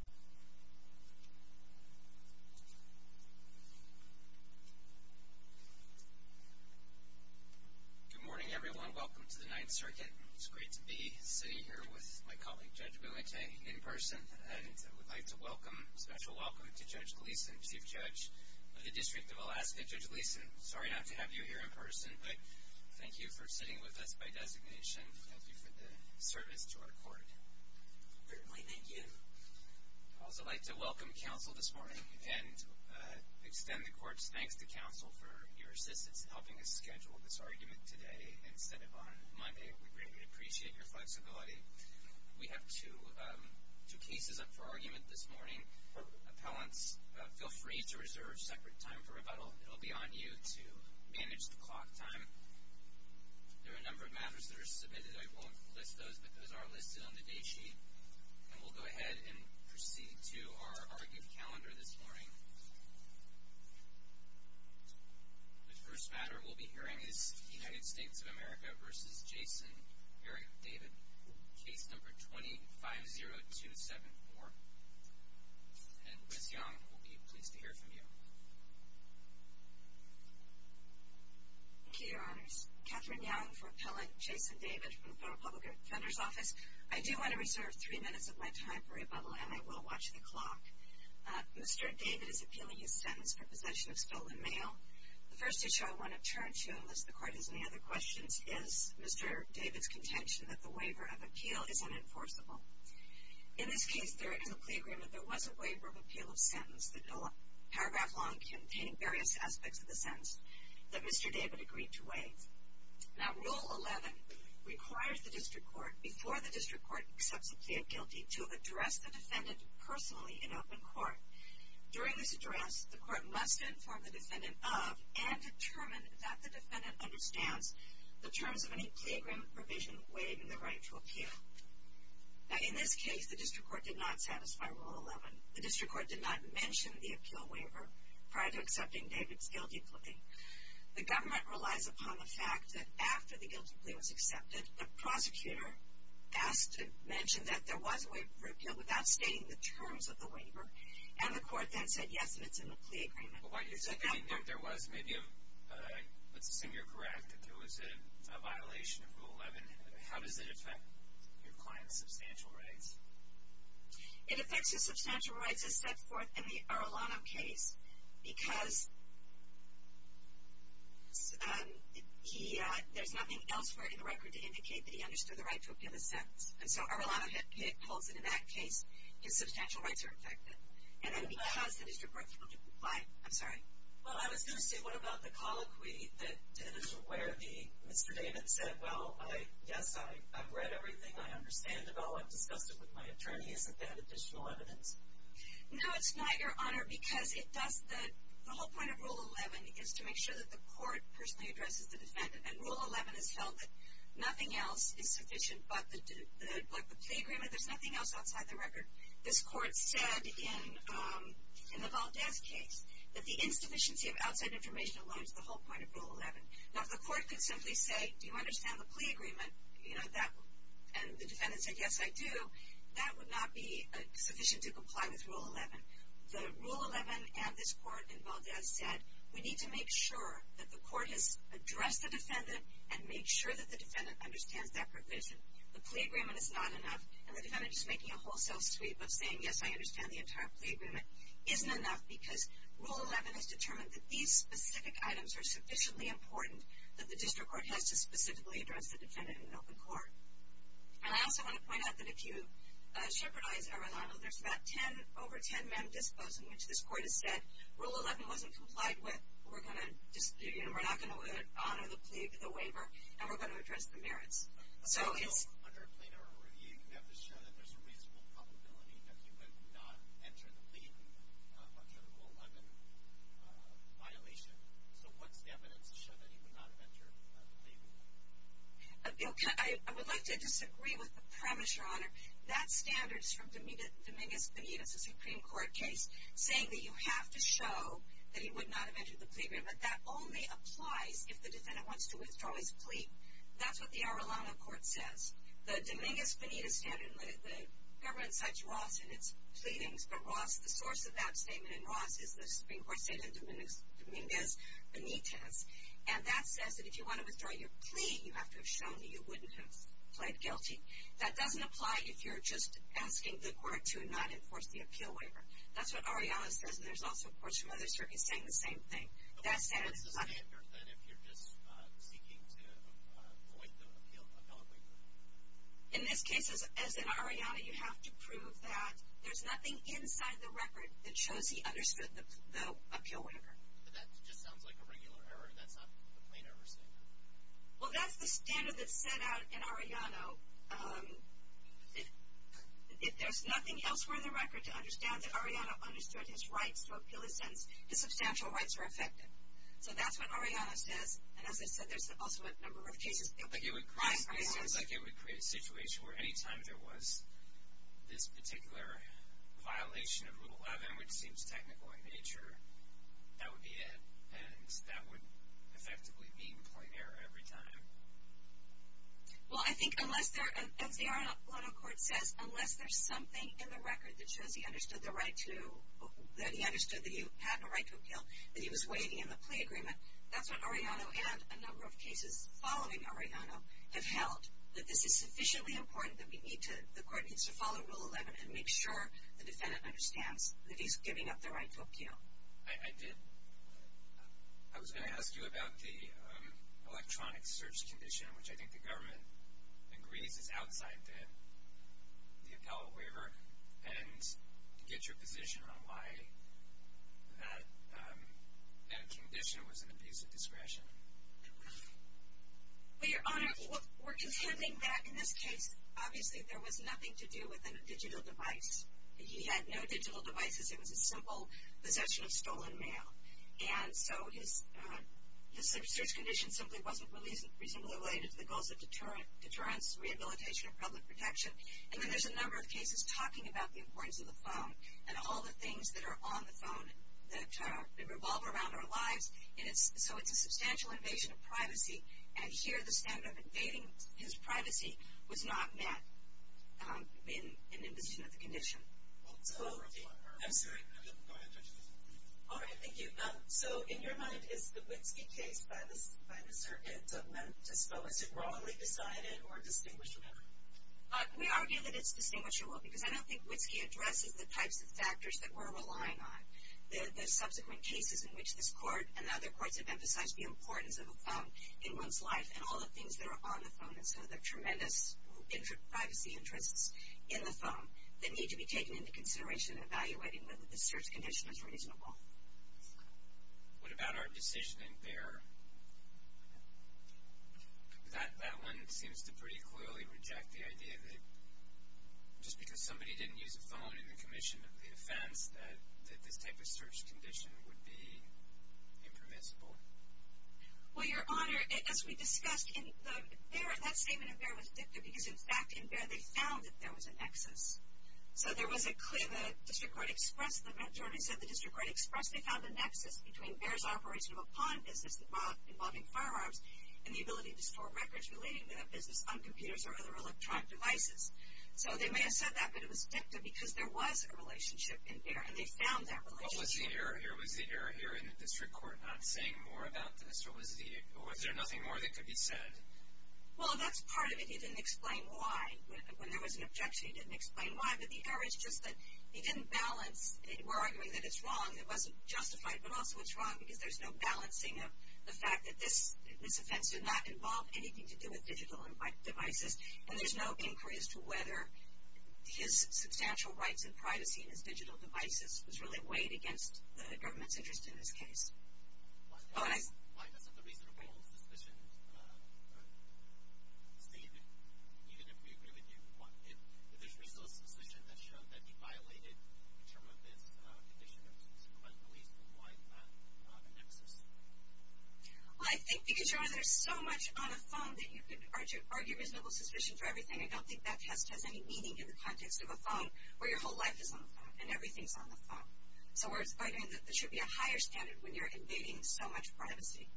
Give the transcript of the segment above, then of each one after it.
Good morning, everyone. Welcome to the Ninth Circuit. It's great to be sitting here with my colleague, Judge Buente, in person, and I would like to welcome, special welcome to Judge Gleeson, Chief Judge of the District of Alaska. Judge Gleeson, sorry not to have you here in person, but thank you for sitting with us by designation. Thank you for the court. Certainly, thank you. I'd also like to welcome counsel this morning and extend the court's thanks to counsel for your assistance in helping us schedule this argument today instead of on Monday. We greatly appreciate your flexibility. We have two cases up for argument this morning. Appellants, feel free to reserve separate time for rebuttal. It'll be on you to manage the clock time. There are a number of matters that are submitted. I won't list those, but those are listed on the date sheet, and we'll go ahead and proceed to our argument calendar this morning. The first matter we'll be hearing is United States of America v. Jason Eric David, case number 250274, and Ms. Young will be pleased to hear from you. Thank you, Your Honors. Katherine Young for the Federal Public Defender's Office. I do want to reserve three minutes of my time for rebuttal, and I will watch the clock. Mr. David is appealing his sentence for possession of stolen mail. The first issue I want to turn to, unless the court has any other questions, is Mr. David's contention that the waiver of appeal is unenforceable. In this case, there is a plea agreement. There was a waiver of appeal of sentence that, paragraph long, contained various aspects of the sentence that Mr. David agreed to waive. Now, Rule 11 requires the district court, before the district court accepts a plea of guilty, to address the defendant personally in open court. During this address, the court must inform the defendant of, and determine that the defendant understands, the terms of any plea agreement provision waived in the right to appeal. Now, in this case, the district court did not satisfy Rule 11. The district court did not mention the appeal waiver prior to accepting David's guilty plea. The government relies upon the fact that after the guilty plea was accepted, the prosecutor asked to mention that there was a waiver of appeal without stating the terms of the waiver, and the court then said yes, and it's in the plea agreement. But what you're saying, if there was maybe a, let's assume you're correct, that there was a violation of Rule 11, how does it affect your client's substantial rights? It affects his substantial rights, as set forth in the Arlano case, because he, there's nothing elsewhere in the record to indicate that he understood the right to appeal the sentence. And so, Arlano holds that in that case, his substantial rights are affected. And then, because the district court's willing to comply, I'm sorry? Well, I was going to say, what about the colloquy that, where the, Mr. David said, well, yes, I've read everything, I understand it all, I've discussed it with my attorney, isn't that additional evidence? No, it's not, Your Honor, because it does, the whole point of Rule 11 is to make sure that the court personally addresses the defendant, and Rule 11 is held that nothing else is sufficient but the plea agreement, there's nothing else outside the record. This court said in the Valdez case that the insufficiency of outside information aligns with the whole point of Rule 11. Now, if the court could simply say, do you understand the plea agreement, you know, and the defendant said, yes, I do, that would not be sufficient to comply with Rule 11. The Rule 11 and this court in Valdez said, we need to make sure that the court has addressed the defendant and made sure that the defendant understands that provision. The plea agreement is not enough, and the defendant just making a wholesale sweep of saying, yes, I understand the entire plea agreement, isn't enough because Rule 11 has determined that these specific items are sufficiently important that the district court has to specifically address the defendant in an open court. And I also want to point out that if you shepherdize Eranado, there's about 10, over 10 men disclosed in which this court has said, Rule 11 wasn't complied with, we're going to, you know, we're not going to honor the plea with a waiver, and we're going to address the merits. So it's... So under a plea to Eranado, you have to show that there's a reasonable probability that he would not enter the plea agreement under the Rule 11 violation. So what's the evidence to show that he would not have entered the plea agreement? I would like to disagree with the premise, Your Honor. That standard is from Dominguez-Benitez, a Supreme Court case, saying that you have to show that he would not have entered the plea agreement, but that only applies if the defendant wants to withdraw his plea. That's what the Eranado court says. The Dominguez-Benitez standard, the government cites Ross in its pleadings, but Ross, the source of that statement in Ross is the Supreme Court statement, Dominguez-Benitez, and that says that if you want to withdraw your plea, you have to have shown that you wouldn't have pled guilty. That doesn't apply if you're just asking the court to not enforce the appeal waiver. That's what Arianna says, and there's also courts from other circuits saying the same thing. That standard is not... But what's the standard then if you're just seeking to avoid the appeal, appellate waiver? In this case, as in Arianna, you have to prove that there's nothing inside the record that shows he understood the appeal waiver. But that just sounds like a regular error. That's not a plain error statement. Well, that's the standard that's set out in Arianna. If there's nothing elsewhere in the record to understand that Arianna understood his rights to appeal his sentence, his substantial rights are affected. So that's what Arianna says, and as I said, there's also a number of cases... It seems like it would create a situation where any time there was this particular violation of Rule 11, which seems technical in nature, that would be it. And that would effectively be a plain error every time. Well, I think unless there... As the Arianna court says, unless there's something in the record that shows he understood the right to... That he understood that he had a right to appeal, that he was waiting in the plea agreement, that's what Arianna and a number of cases following Arianna have held, that this is sufficiently important that we need to... The defendant understands that he's giving up the right to appeal. I did... I was going to ask you about the electronic search condition, which I think the government agrees is outside the appellate waiver. And get your position on why that condition was an abuse of discretion. Well, Your Honor, we're contending that in this case, obviously, there was nothing to He had no digital devices. It was a simple possession of stolen mail. And so his search condition simply wasn't reasonably related to the goals of deterrence, rehabilitation, and public protection. And then there's a number of cases talking about the importance of the phone and all the things that are on the phone that revolve around our lives. And so it's a substantial invasion of privacy. And here, the standard of invading his privacy was not met in the position of the condition. So... I'm sorry. Go ahead, Judge. All right. Thank you. So in your mind, is the Witski case by the circuit meant to... Was it wrongly decided or distinguished enough? We argue that it's distinguishable because I don't think Witski addresses the types of factors that we're relying on. The subsequent cases in which this court and other courts have emphasized the importance of a phone in one's life and all the things that are on the phone and so the tremendous privacy interests in the phone that need to be taken into consideration in evaluating whether the search condition is reasonable. What about our decision in Baer? That one seems to pretty clearly reject the idea that just because somebody didn't use a phone in the commission of the offense that this type of search condition would be impermissible. Well, Your Honor, as we discussed in Baer, that statement in Baer was dicta because, in fact, in Baer, they found that there was a nexus. So there was a clear... The district court expressed... The majority said the district court expressed they found a nexus between Baer's operation of a pawn business involving firearms and the ability to store records relating to that business on computers or other electronic devices. So they may have said that, but it was dicta because there was a relationship in Baer, and they found that relationship. What was the error here? Was the error here in the district court not saying more about this? Or was there nothing more that could be said? Well, that's part of it. He didn't explain why. When there was an objection, he didn't explain why. But the error is just that he didn't balance. We're arguing that it's wrong. It wasn't justified. But also it's wrong because there's no balancing of the fact that this offense did not involve anything to do with digital devices, and there's no inquiry as to whether his substantial rights and privacy in his digital devices was really weighed against the government's interest in this case. Oh, and I... Why doesn't the reasonable suspicion state that even if we agree with you, if there's reasonable suspicion that showed that he violated a term of his condition of supremacy, why not a nexus? Well, I think because you're either so much on a phone that you can argue reasonable suspicion for everything, I don't think that test has any meaning in the context of a phone where your whole life is on the phone and everything's on the phone. So we're arguing that there should be a higher standard when you're invading so much privacy.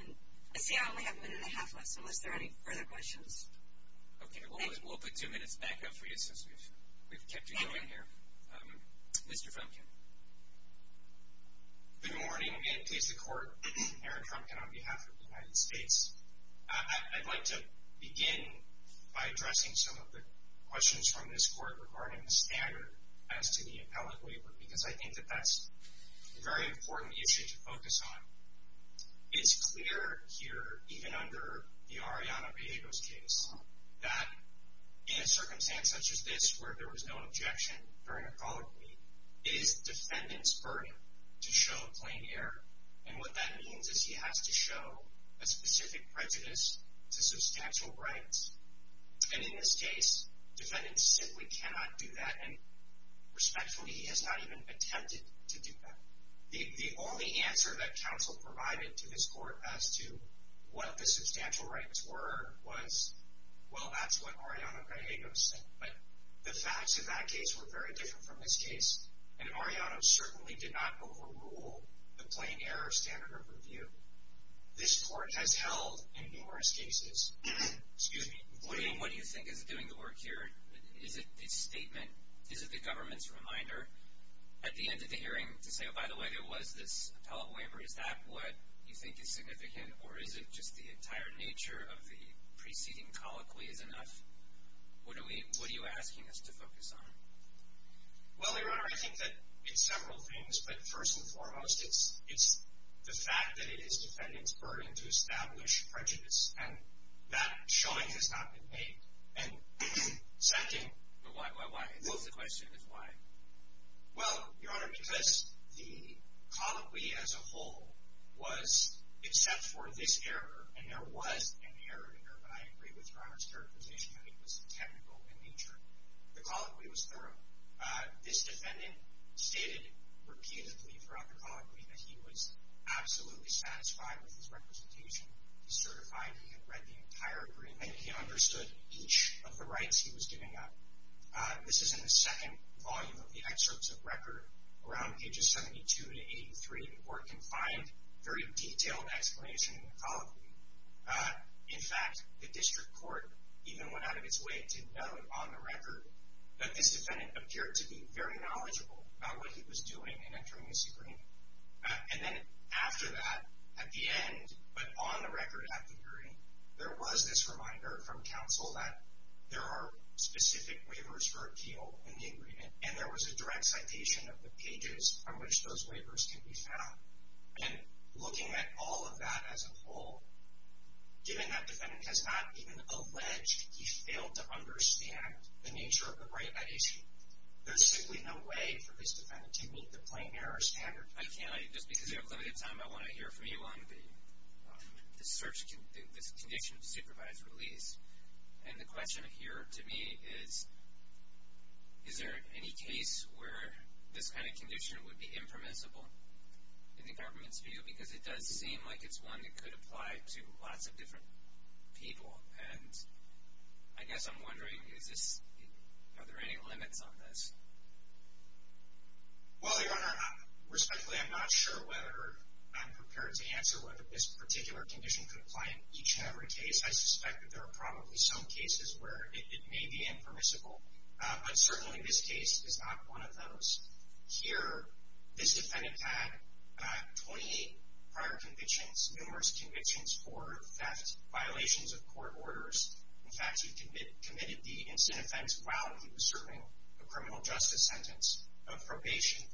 And I see I only have a minute and a half left, so unless there are any further questions... Okay, we'll put two minutes back up for you since we've kept you going here. Okay. Mr. Frumkin. Good morning, and please, the Court. Aaron Frumkin on behalf of the United States. I'd like to begin by addressing some of the questions from this Court regarding the standard as to the appellate waiver, because I think that that's a very important issue to focus on. It's clear here, even under the Ariana Villegas case, that in a circumstance such as this where there was no objection during a colleague plea, it is the defendant's burden to show a specific prejudice to substantial rights. And in this case, the defendant simply cannot do that, and respectfully, he has not even attempted to do that. The only answer that counsel provided to this Court as to what the substantial rights were was, well, that's what Ariana Villegas said, but the facts of that case were very different from this case, and Ariana certainly did not overrule the plain error standard of review. This Court has held in numerous cases. Excuse me. What do you think is doing the work here? Is it this statement? Is it the government's reminder at the end of the hearing to say, oh, by the way, there was this appellate waiver? Is that what you think is significant, or is it just the entire nature of the preceding colleague plea is enough? What are you asking us to focus on? Well, Your Honor, I think that it's several things, but first and foremost, it's the fact that it is defendant's burden to establish prejudice, and that showing has not been made. And second... Why, why, why? What's the question? Why? Well, Your Honor, because the colleague plea as a whole was, except for this error, and there was an error in there, but I agree with Your Honor's interpretation that it was technical in nature. The colleague plea was thorough. This defendant stated repeatedly throughout the colleague plea that he was absolutely satisfied with his representation. He certified he had read the entire agreement. He understood each of the rights he was giving up. This is in the second volume of the excerpts of record around pages 72 to 83. The court can find very detailed explanation in the colleague plea. In fact, the district court even went out of its way to note on the record that this defendant appeared to be very knowledgeable about what he was doing in entering this agreement. And then after that, at the end, but on the record at the hearing, there was this reminder from counsel that there are specific waivers for appeal in the agreement, and there was a direct citation of the pages on which those waivers can be found. And looking at all of that as a whole, given that defendant has not even alleged he failed to understand the nature of the right by issue, there's simply no way for this defendant to meet the plain error standard. I can't, just because you have limited time, I want to hear from you on the search, this condition of supervised release. And the question here to me is, is there any case where this kind of condition would be impermissible in the government's view? Because it does seem like it's one that could apply to lots of different people. And I guess I'm wondering, are there any limits on this? Well, Your Honor, respectfully, I'm not sure whether I'm prepared to answer whether this particular condition could apply in each and every case. I suspect that there are probably some cases where it may be impermissible. But certainly this case is not one of those. Here, this defendant had 28 prior convictions, numerous convictions for theft, violations of court orders. In fact, he committed the incident offense while he was serving a criminal justice sentence of probation.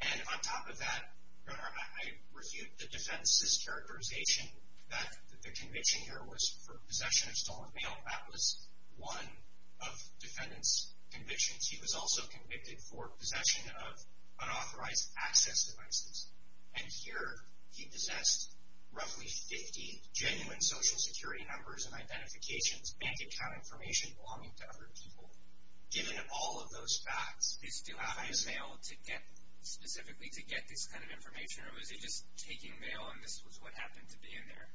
And on top of that, Your Honor, I refute the defendant's characterization that the conviction here was for possession of stolen mail. That was one of the defendant's convictions. He was also convicted for possession of unauthorized access devices. And here, he possessed roughly 50 genuine social security numbers and identifications and bank account information belonging to other people. Given all of those facts, he still had his mail to get, specifically to get this kind of information? Or was he just taking mail and this was what happened to be in there?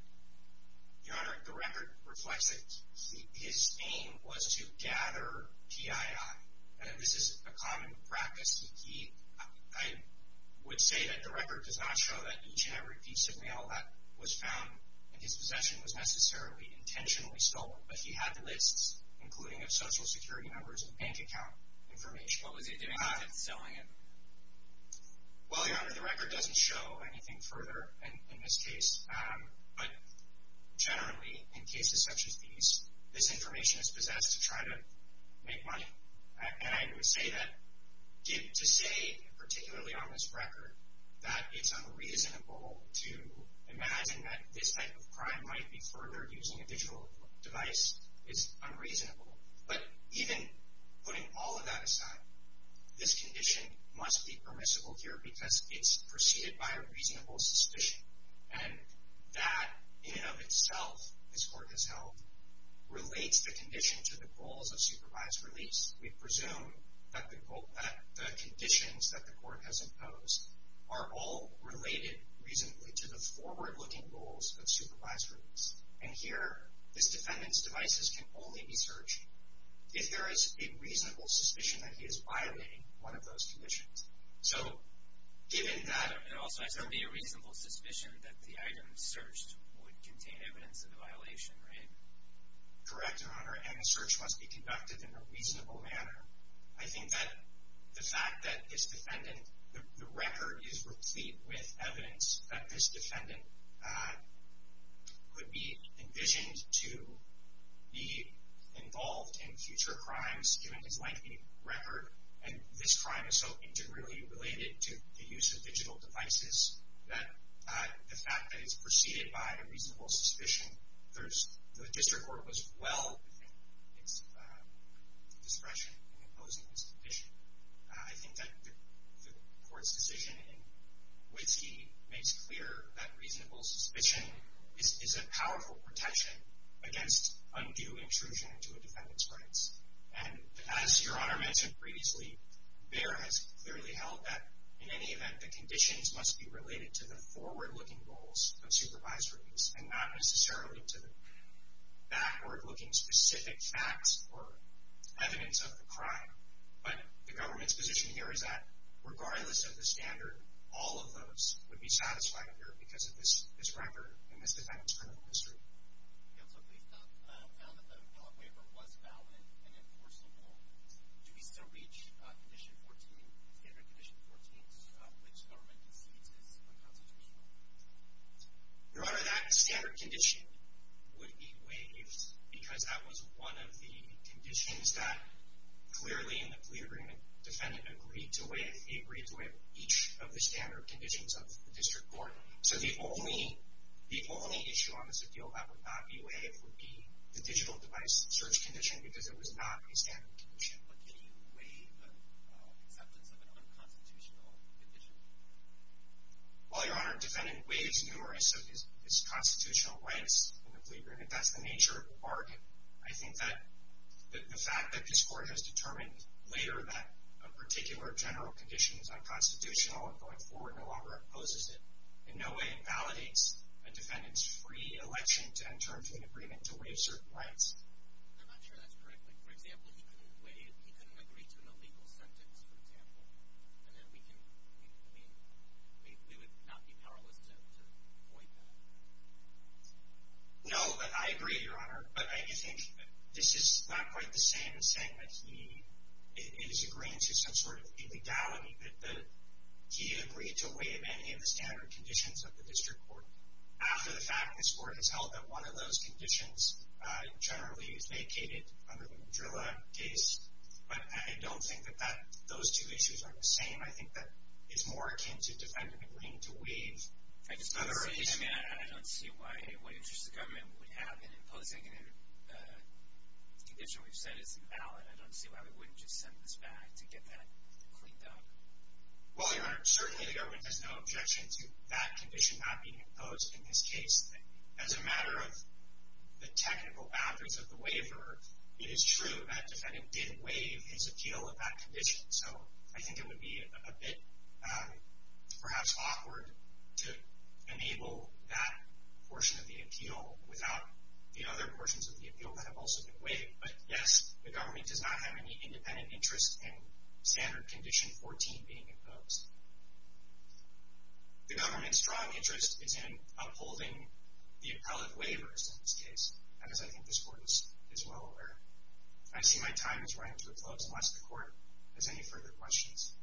Your Honor, the record reflects it. His aim was to gather PII. This is a common practice. I would say that the record does not show that each and every piece of mail that was found in his possession was necessarily intentionally stolen. But he had the lists, including of social security numbers and bank account information. What was he doing with it? Selling it? Well, Your Honor, the record doesn't show anything further in this case. But generally, in cases such as these, this information is possessed to try to make money. And I would say that to say, particularly on this record, that it's unreasonable to imagine that this type of crime might be furthered using a digital device is unreasonable. But even putting all of that aside, this condition must be permissible here because it's preceded by a reasonable suspicion. And that, in and of itself, this Court has held, relates the condition to the goals of supervised release. We presume that the conditions that the Court has imposed are all related reasonably to the forward-looking goals of supervised release. And here, this defendant's devices can only be searched if there is a reasonable suspicion that he is violating one of those conditions. So, given that... And also, it has to be a reasonable suspicion that the items searched would contain evidence of the violation, right? Correct, Your Honor. And the search must be conducted in a reasonable manner. I think that the fact that this defendant... The record is replete with evidence that this defendant could be envisioned to be involved in future crimes, given his lengthy record. And this crime is so integrally related to the use of digital devices that the fact that it's preceded by a reasonable suspicion... The District Court was well within its discretion in imposing this condition. I think that the Court's decision in Whiskey makes clear that reasonable suspicion is a powerful protection against undue intrusion into a defendant's rights. And as Your Honor mentioned previously, BEHR has clearly held that, in any event, the conditions must be related to the forward-looking goals of supervised release and not necessarily to the backward-looking specific facts or evidence of the crime. But the government's position here is that, regardless of the standard, all of those would be satisfied here because of this record and this defendant's criminal history. Counsel, please. Now that the dog waiver was valid and enforceable, do we still reach Condition 14, standard Condition 14, which the government concedes is unconstitutional? Your Honor, that standard condition would be waived because that was one of the conditions that, clearly in the plea agreement, the defendant agreed to waive. He agreed to waive each of the standard conditions of the District Court. So the only issue on this appeal that would not be waived would be the digital device search condition because it was not a standard condition. But can you waive the acceptance of an unconstitutional condition? Well, Your Honor, the defendant waives numerous of his constitutional rights in the plea agreement. That's the nature of the bargain. I think that the fact that this Court has determined later that a particular general condition is unconstitutional and going forward no longer opposes it, in no way validates a defendant's free election to enter into an agreement to waive certain rights. I'm not sure that's correct. Like, for example, he couldn't agree to an illegal sentence, for example. And then we can, I mean, we would not be powerless to avoid that. No, I agree, Your Honor. But I do think this is not quite the same as saying that he is agreeing to some sort of illegality, that he agreed to waive any of the standard conditions of the District Court after the fact this Court has held that one of those conditions generally is vacated under the Madrilla case. But I don't think that those two issues are the same. I think that it's more akin to the defendant agreeing to waive. I just don't see it. I mean, I don't see what interest the government would have in imposing a condition we've said isn't valid. I don't see why we wouldn't just send this back to get that cleaned up. Well, Your Honor, certainly the government has no objection to that condition not being imposed in this case. As a matter of the technical boundaries of the waiver, it is true that the defendant did waive his appeal of that condition. So I think it would be a bit perhaps awkward to enable that portion of the appeal without the other portions of the appeal that have also been waived. But yes, the government does not have any independent interest in Standard Condition 14 being imposed. The government's strong interest is in upholding the appellate waivers in this case, as I think this Court is well aware. I see my time is running to a close, unless the Court has any further questions.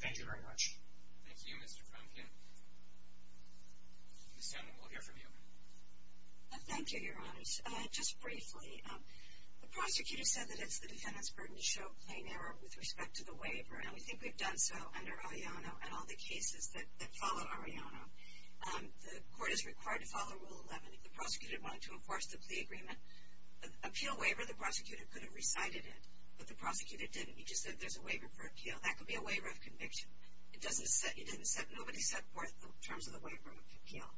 Thank you very much. Thank you, Mr. Kromkin. Ms. Sandlin, we'll hear from you. Thank you, Your Honors. Just briefly, the prosecutor said that it's the defendant's burden to show plain error with respect to the waiver, and we think we've done so under Arellano and all the cases that follow Arellano. The Court is required to follow Rule 11. If the prosecutor wanted to enforce the plea agreement appeal waiver, the prosecutor could have recited it, but the prosecutor didn't. He just said there's a waiver for appeal. That could be a waiver of conviction. Nobody set forth the terms of the waiver of appeal.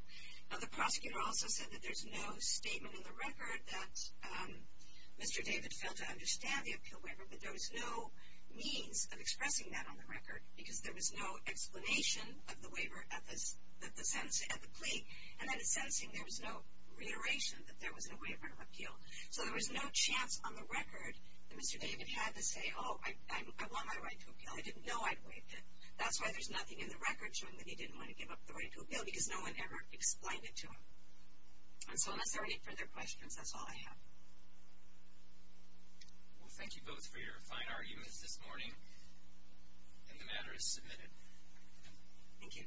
Now, the prosecutor also said that there's no statement in the record that Mr. David failed to understand the appeal waiver, but there was no means of expressing that on the record because there was no explanation of the waiver at the plea. And then the sentencing, there was no reiteration that there was a waiver of appeal. So there was no chance on the record that Mr. David had to say, oh, I want my right to appeal. I didn't know I'd waived it. That's why there's nothing in the record showing that he didn't want to give up the right to appeal because no one ever explained it to him. And so unless there are any further questions, that's all I have. Well, thank you both for your fine arguments this morning, and the matter is submitted. Thank you. Thank you.